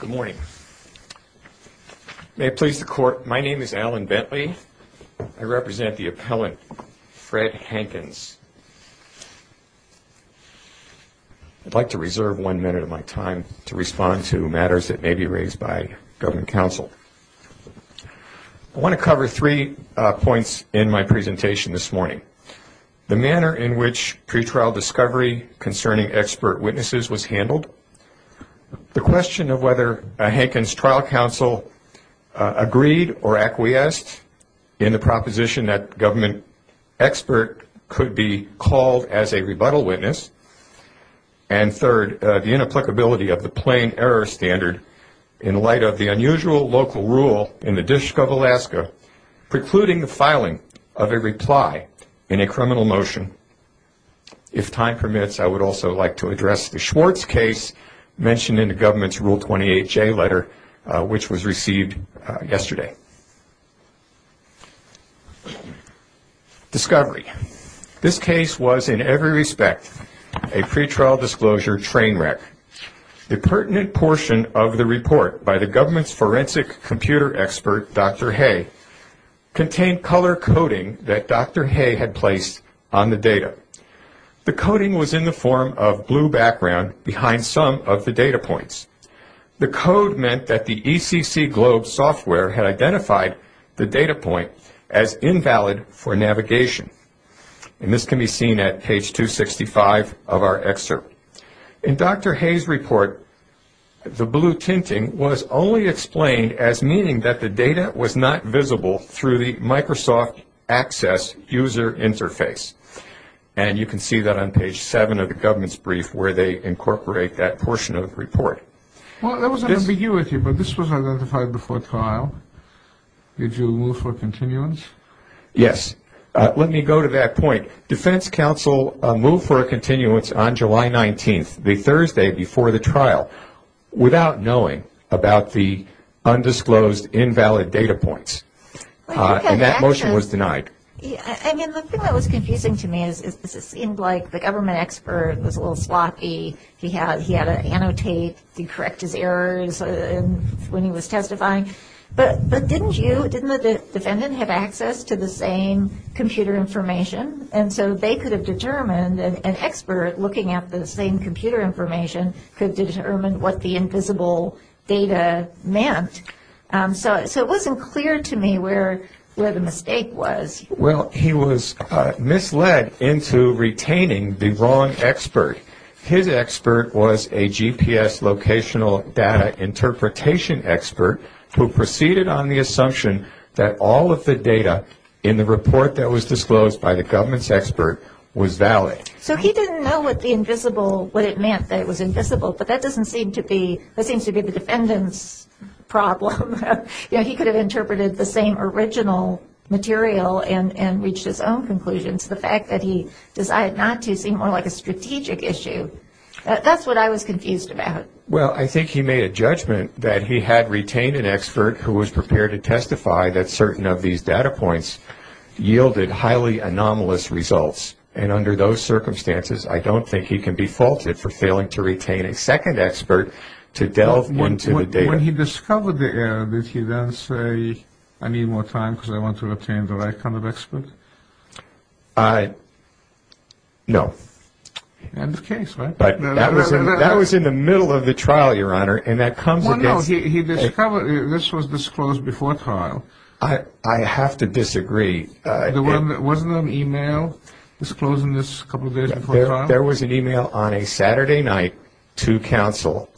Good morning. May it please the Court, my name is Alan Bentley. I represent the appellant, Fred Hankins. I'd like to reserve one minute of my time to respond to matters that may be raised by government counsel. I want to cover three points in my presentation this morning. First, the question of whether Hankins' trial counsel agreed or acquiesced in the proposition that a government expert could be called as a rebuttal witness. And third, the inapplicability of the plain error standard in light of the unusual local rule in the District of Alaska precluding the filing of a reply in a criminal motion. If time permits, I would also like to address the Schwartz case mentioned in the government's Rule 28J letter, which was received yesterday. Discovery. This case was in every respect a pretrial disclosure train wreck. The pertinent portion of the report by the government's forensic computer expert, Dr. Hay, contained color coding that Dr. Hay had placed on the data. The coding was in the form of blue background behind some of the data points. The code meant that the ECC Globe software had identified the data point as invalid for navigation. This can be seen at page 265 of our excerpt. In Dr. Hay's report, the blue tinting was only explained as meaning that the data was not visible through the Microsoft Access user interface. And you can see that on page 7 of the government's brief where they incorporate that portion of the report. Well, there was an ambiguity, but this was identified before trial. Did you move for a continuance? Yes. Let me go to that point. Defense counsel moved for a continuance on July 19th, the Thursday before the trial, without knowing about the undisclosed invalid data points. And that motion was denied. I mean, the thing that was confusing to me is it seemed like the government expert was a little sloppy. He had to annotate and correct his errors when he was testifying. But didn't you, didn't the defendant have access to the same computer information? And so they could have determined, an expert looking at the same computer information could determine what the invisible data meant. So it wasn't clear to me where the mistake was. Well, he was misled into retaining the wrong expert. His expert was a GPS locational data interpretation expert who proceeded on the assumption that all of the data in the report that was disclosed by the government's expert was valid. So he didn't know what the invisible, what it meant that it was invisible. But that doesn't seem to be, that seems to be the defendant's problem. You know, he could have interpreted the same original material and reached his own conclusions. The fact that he decided not to seemed more like a strategic issue. That's what I was confused about. Well, I think he made a judgment that he had retained an expert who was prepared to testify that certain of these data points yielded highly anomalous results. And under those circumstances I don't think he can be faulted for failing to retain a second expert to delve into the data. When he discovered the error, did he then say, I need more time because I want to retain the right kind of expert? No. End of case, right? But that was in the middle of the trial, Your Honor, and that comes against... Well, no, he discovered, this was disclosed before trial. I have to disagree. Wasn't there an email disclosing this a couple of days before trial? There was an email on a Saturday night to counsel.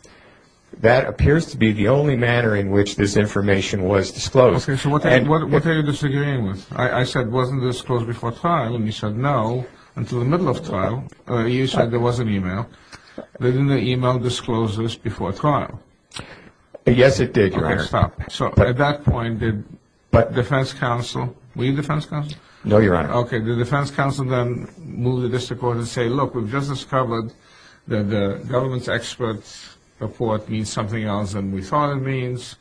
That appears to be the only manner in which this information was disclosed. Okay, so what are you disagreeing with? I said, wasn't this disclosed before trial? And you said, no, until the middle of trial. You said there was an email. Didn't the email disclose this before trial? Yes, it did, Your Honor. Okay, stop. So at that point, did defense counsel, were you defense counsel? No, Your Honor. Okay, the defense counsel then moved the district court and said, look, we've just discovered that the government's expert report means something else than we thought it means.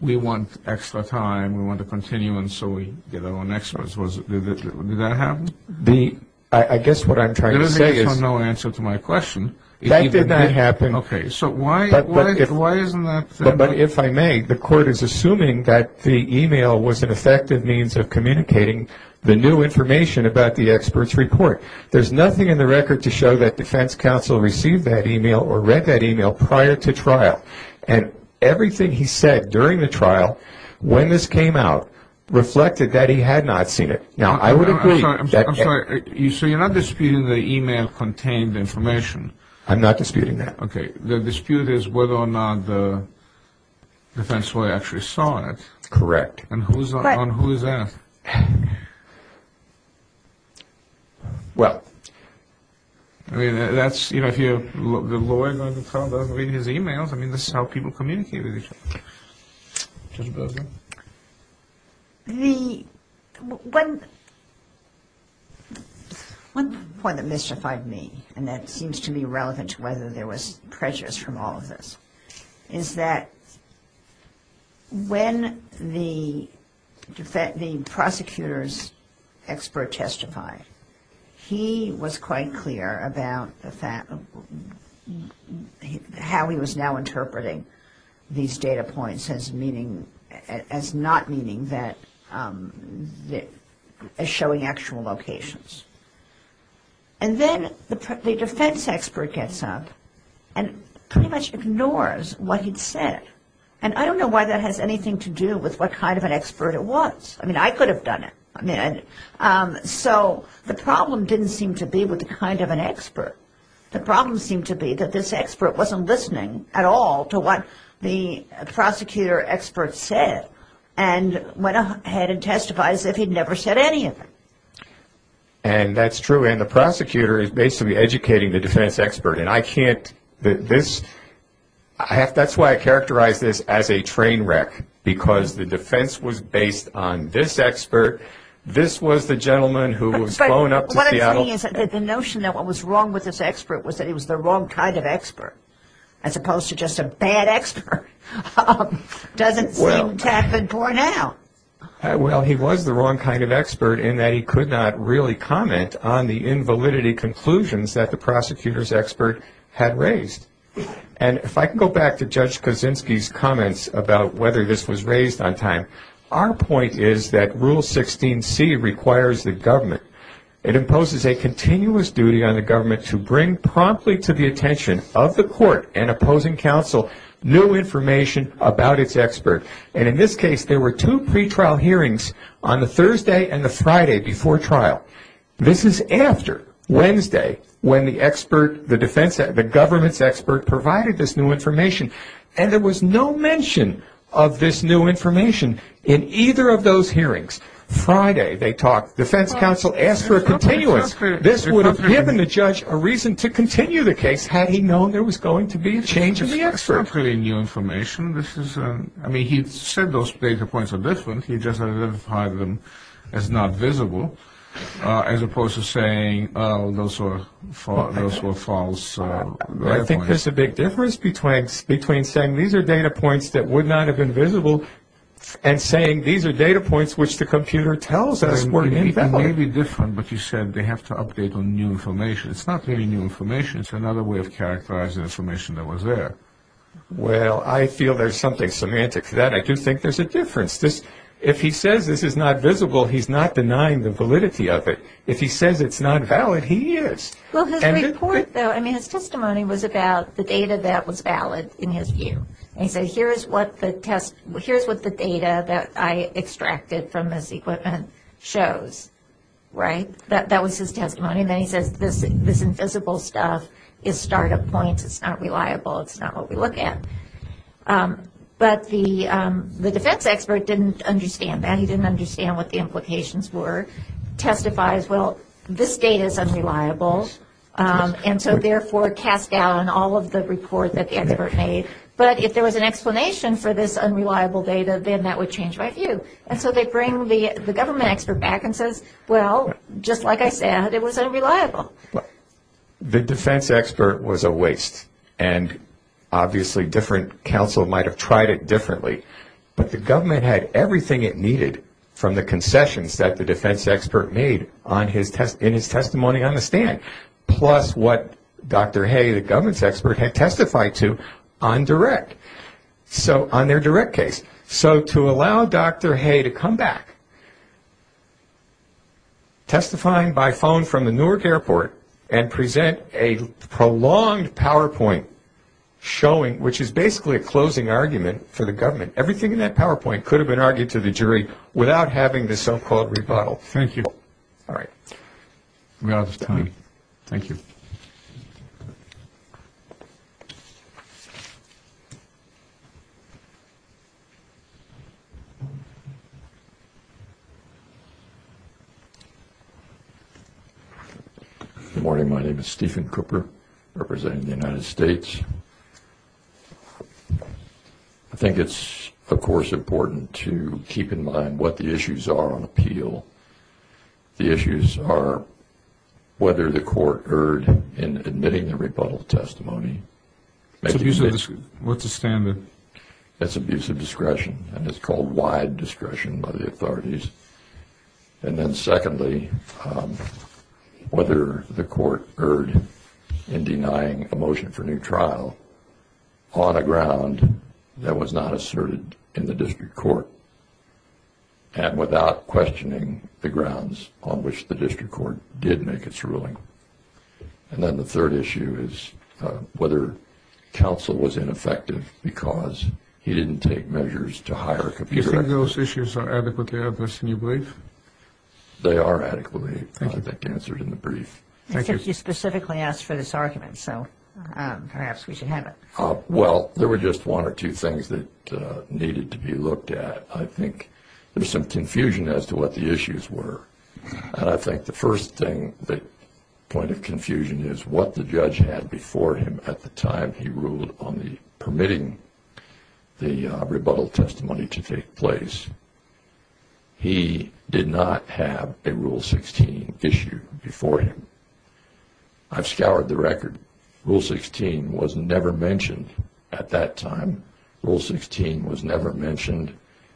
We want extra time. We want a continuance so we get our own experts. Did that happen? I guess what I'm trying to say is... There is no answer to my question. That did not happen. Okay, so why isn't that... But if I may, the court is assuming that the email was an effective means of communicating the new information about the expert's report. There's nothing in the record to show that defense counsel received that email or read that email prior to trial. And everything he said during the trial, when this came out, reflected that he had not seen it. Now, I would agree... I'm sorry, I'm sorry. So you're not disputing the email contained information? I'm not disputing that. Okay, the dispute is whether or not the defense lawyer actually saw it. Correct. And who's on whose end? Well... I mean, that's... You know, if the lawyer going to trial doesn't read his emails, I mean, this is how people communicate with each other. Judge Berger. The... One... One point that mystified me, and that seems to be relevant to whether there was pressures from all of this, is that when the prosecutor's expert testified, he was quite clear about how he was now interpreting these data points as meaning... as not meaning that... as showing actual locations. And then the defense expert gets up and pretty much ignores what he'd said. And I don't know why that has anything to do with what kind of an expert it was. I mean, I could have done it. So the problem didn't seem to be with the kind of an expert. The problem seemed to be that this expert wasn't listening at all to what the prosecutor expert said and went ahead and testified as if he'd never said any of it. And that's true. And the prosecutor is basically educating the defense expert. And I can't... This... That's why I characterize this as a train wreck, because the defense was based on this expert. This was the gentleman who was going up to Seattle... But what I'm saying is that the notion that what was wrong with this expert was that he was the wrong kind of expert, as opposed to just a bad expert, doesn't seem to have been borne out. Well, he was the wrong kind of expert in that he could not really comment on the invalidity conclusions that the prosecutor's expert had raised. And if I can go back to Judge Kaczynski's comments about whether this was raised on time, our point is that Rule 16c requires the government. It imposes a continuous duty on the government to bring promptly to the attention of the court and opposing counsel new information about its expert. And in this case, there were two pretrial hearings on the Thursday and the Friday before trial. This is after Wednesday when the government's expert provided this new information, and there was no mention of this new information in either of those hearings. Friday, they talked. The defense counsel asked for a continuance. This would have given the judge a reason to continue the case had he known there was going to be a change in the expert. It's not really new information. I mean, he said those data points are different. He just identified them as not visible. As opposed to saying those were false data points. I think there's a big difference between saying these are data points that would not have been visible and saying these are data points which the computer tells us were invalid. They may be different, but you said they have to update on new information. It's not really new information. It's another way of characterizing information that was there. Well, I feel there's something semantic to that. I do think there's a difference. If he says this is not visible, he's not denying the validity of it. If he says it's not valid, he is. His testimony was about the data that was valid in his view. He said here's what the data that I extracted from this equipment shows. That was his testimony. Then he says this invisible stuff is startup points. It's not reliable. It's not what we look at. But the defense expert didn't understand that. He didn't understand what the implications were. Testifies, well, this data is unreliable, and so therefore cast doubt on all of the report that the expert made. But if there was an explanation for this unreliable data, then that would change my view. And so they bring the government expert back and says, well, just like I said, it was unreliable. The defense expert was a waste. And obviously different counsel might have tried it differently. But the government had everything it needed from the concessions that the defense expert made in his testimony on the stand, plus what Dr. Hay, the government's expert, had testified to on their direct case. So to allow Dr. Hay to come back, testifying by phone from the Newark airport, and present a prolonged PowerPoint showing, which is basically a closing argument for the government, everything in that PowerPoint could have been argued to the jury without having the so-called rebuttal. Thank you. All right. We're out of time. Thank you. Good morning. My name is Stephen Cooper, representing the United States. I think it's, of course, important to keep in mind what the issues are on appeal. The issues are whether the court erred in admitting the rebuttal testimony. What's the standard? That's abusive discretion, and it's called wide discretion by the authorities. And then secondly, whether the court erred in denying a motion for new trial on a ground that was not asserted in the district court and without questioning the grounds on which the district court did make its ruling. And then the third issue is whether counsel was ineffective because he didn't take measures to hire a computer. Do you think those issues are adequately addressed in your brief? They are adequately, I think, answered in the brief. Thank you. I think you specifically asked for this argument, so perhaps we should have it. Well, there were just one or two things that needed to be looked at. I think there's some confusion as to what the issues were, and I think the first point of confusion is what the judge had before him at the time he ruled on permitting the rebuttal testimony to take place. He did not have a Rule 16 issue before him. I've scoured the record. Rule 16 was never mentioned at that time. Rule 16 was never mentioned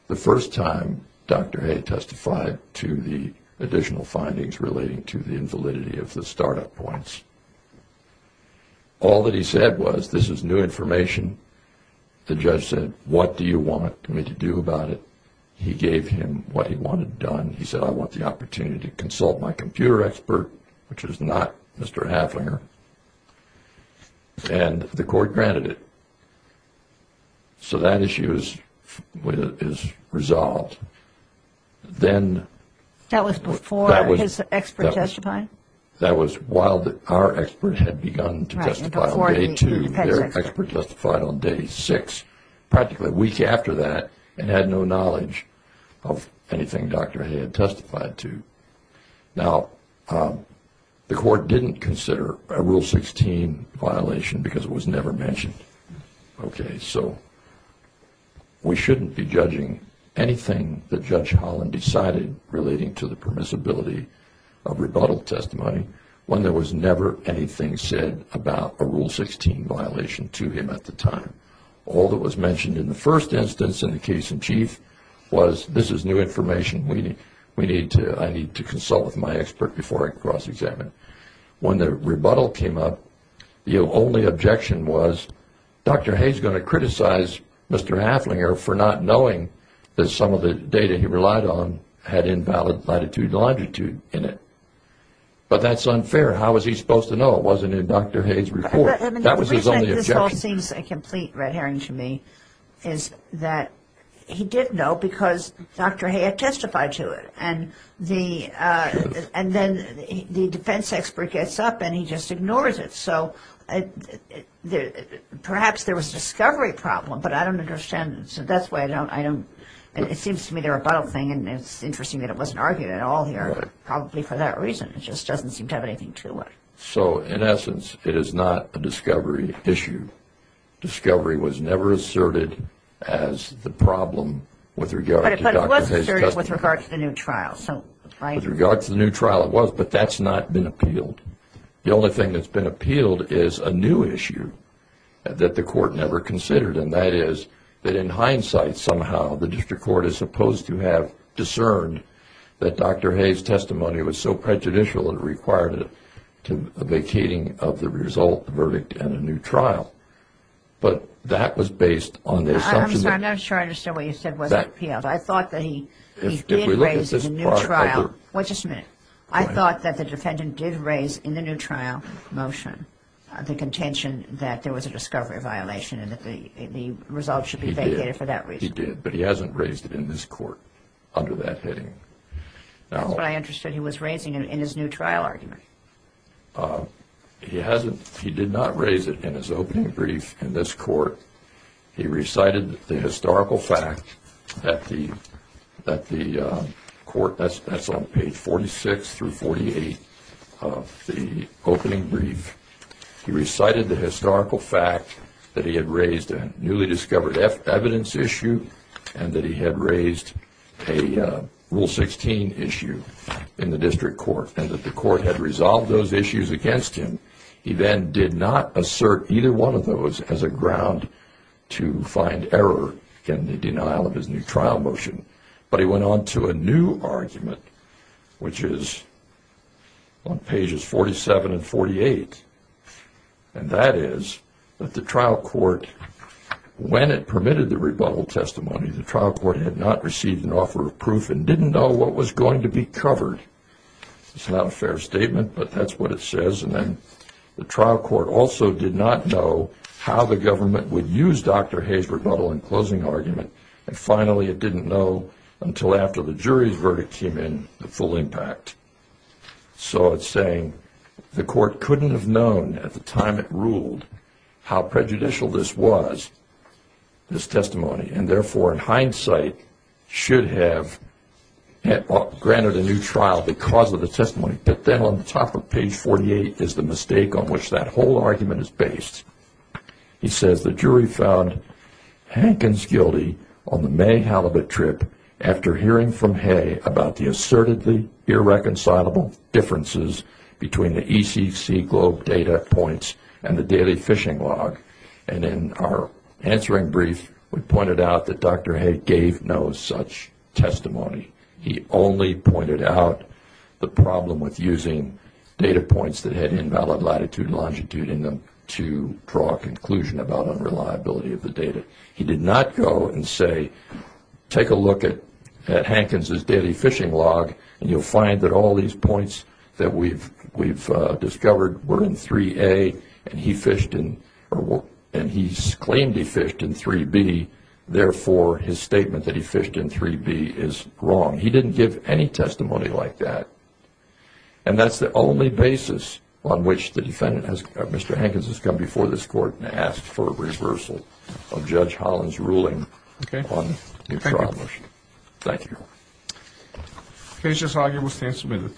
the first time Dr. Hay testified to the additional findings relating to the invalidity of the startup points. All that he said was, this is new information. The judge said, what do you want me to do about it? He gave him what he wanted done. He said, I want the opportunity to consult my computer expert, which was not Mr. Haflinger, and the court granted it. So that issue is resolved. That was before his expert testified? That was while our expert had begun to testify on Day 2. Their expert testified on Day 6, practically a week after that, and had no knowledge of anything Dr. Hay had testified to. Now, the court didn't consider a Rule 16 violation because it was never mentioned. Okay, so we shouldn't be judging anything that Judge Holland decided relating to the permissibility of rebuttal testimony when there was never anything said about a Rule 16 violation to him at the time. All that was mentioned in the first instance in the case in chief was, this is new information. I need to consult with my expert before I cross-examine. When the rebuttal came up, the only objection was, Dr. Hay is going to criticize Mr. Haflinger for not knowing that some of the data he relied on had invalid latitude and longitude in it. But that's unfair. How was he supposed to know? It wasn't in Dr. Hay's report. That was his only objection. This all seems a complete red herring to me, is that he did know because Dr. Hay had testified to it, and then the defense expert gets up and he just ignores it. So perhaps there was a discovery problem, but I don't understand. It seems to me the rebuttal thing, and it's interesting that it wasn't argued at all here, probably for that reason. It just doesn't seem to have anything to it. So, in essence, it is not a discovery issue. Discovery was never asserted as the problem with regard to Dr. Hay's testimony. But it was asserted with regard to the new trial. With regard to the new trial, it was, but that's not been appealed. The only thing that's been appealed is a new issue that the court never considered, and that is that in hindsight somehow the district court is supposed to have discerned that Dr. Hay's testimony was so prejudicial and required a vacating of the result, the verdict, and a new trial. But that was based on the assumption that – I'm sorry, I'm not sure I understand what you said was appealed. I thought that he did raise the new trial – If we look at this part of the – Wait just a minute. I thought that the defendant did raise in the new trial motion the contention that there was a discovery violation and that the result should be vacated for that reason. He did. He did. But he hasn't raised it in this court under that heading. That's what I understood he was raising in his new trial argument. He hasn't – he did not raise it in his opening brief in this court. He recited the historical fact that the court – that's on page 46 through 48 of the opening brief. He recited the historical fact that he had raised a newly discovered evidence issue and that he had raised a Rule 16 issue in the district court and that the court had resolved those issues against him. He then did not assert either one of those as a ground to find error in the denial of his new trial motion. But he went on to a new argument, which is on pages 47 and 48. And that is that the trial court, when it permitted the rebuttal testimony, the trial court had not received an offer of proof and didn't know what was going to be covered. It's not a fair statement, but that's what it says. And then the trial court also did not know how the government would use Dr. Hayes' rebuttal in closing argument. And finally, it didn't know until after the jury's verdict came in the full impact. So it's saying the court couldn't have known at the time it ruled how prejudicial this was, this testimony, and therefore in hindsight should have granted a new trial because of the testimony. But then on the top of page 48 is the mistake on which that whole argument is based. He says the jury found Hankins guilty on the May halibut trip after hearing from Hayes about the assertedly irreconcilable differences between the ECC globe data points and the daily fishing log. And in our answering brief, we pointed out that Dr. Hayes gave no such testimony. He only pointed out the problem with using data points that had invalid latitude and longitude in them to draw a conclusion about unreliability of the data. He did not go and say take a look at Hankins' daily fishing log and you'll find that all these points that we've discovered were in 3A and he fished in, and he's claimed he fished in 3B, therefore his statement that he fished in 3B is wrong. He didn't give any testimony like that. And that's the only basis on which the defendant, Mr. Hankins, has come before this court and asked for a reversal of Judge Holland's ruling on the trial motion. Thank you. Case just argued. We'll stand submitted.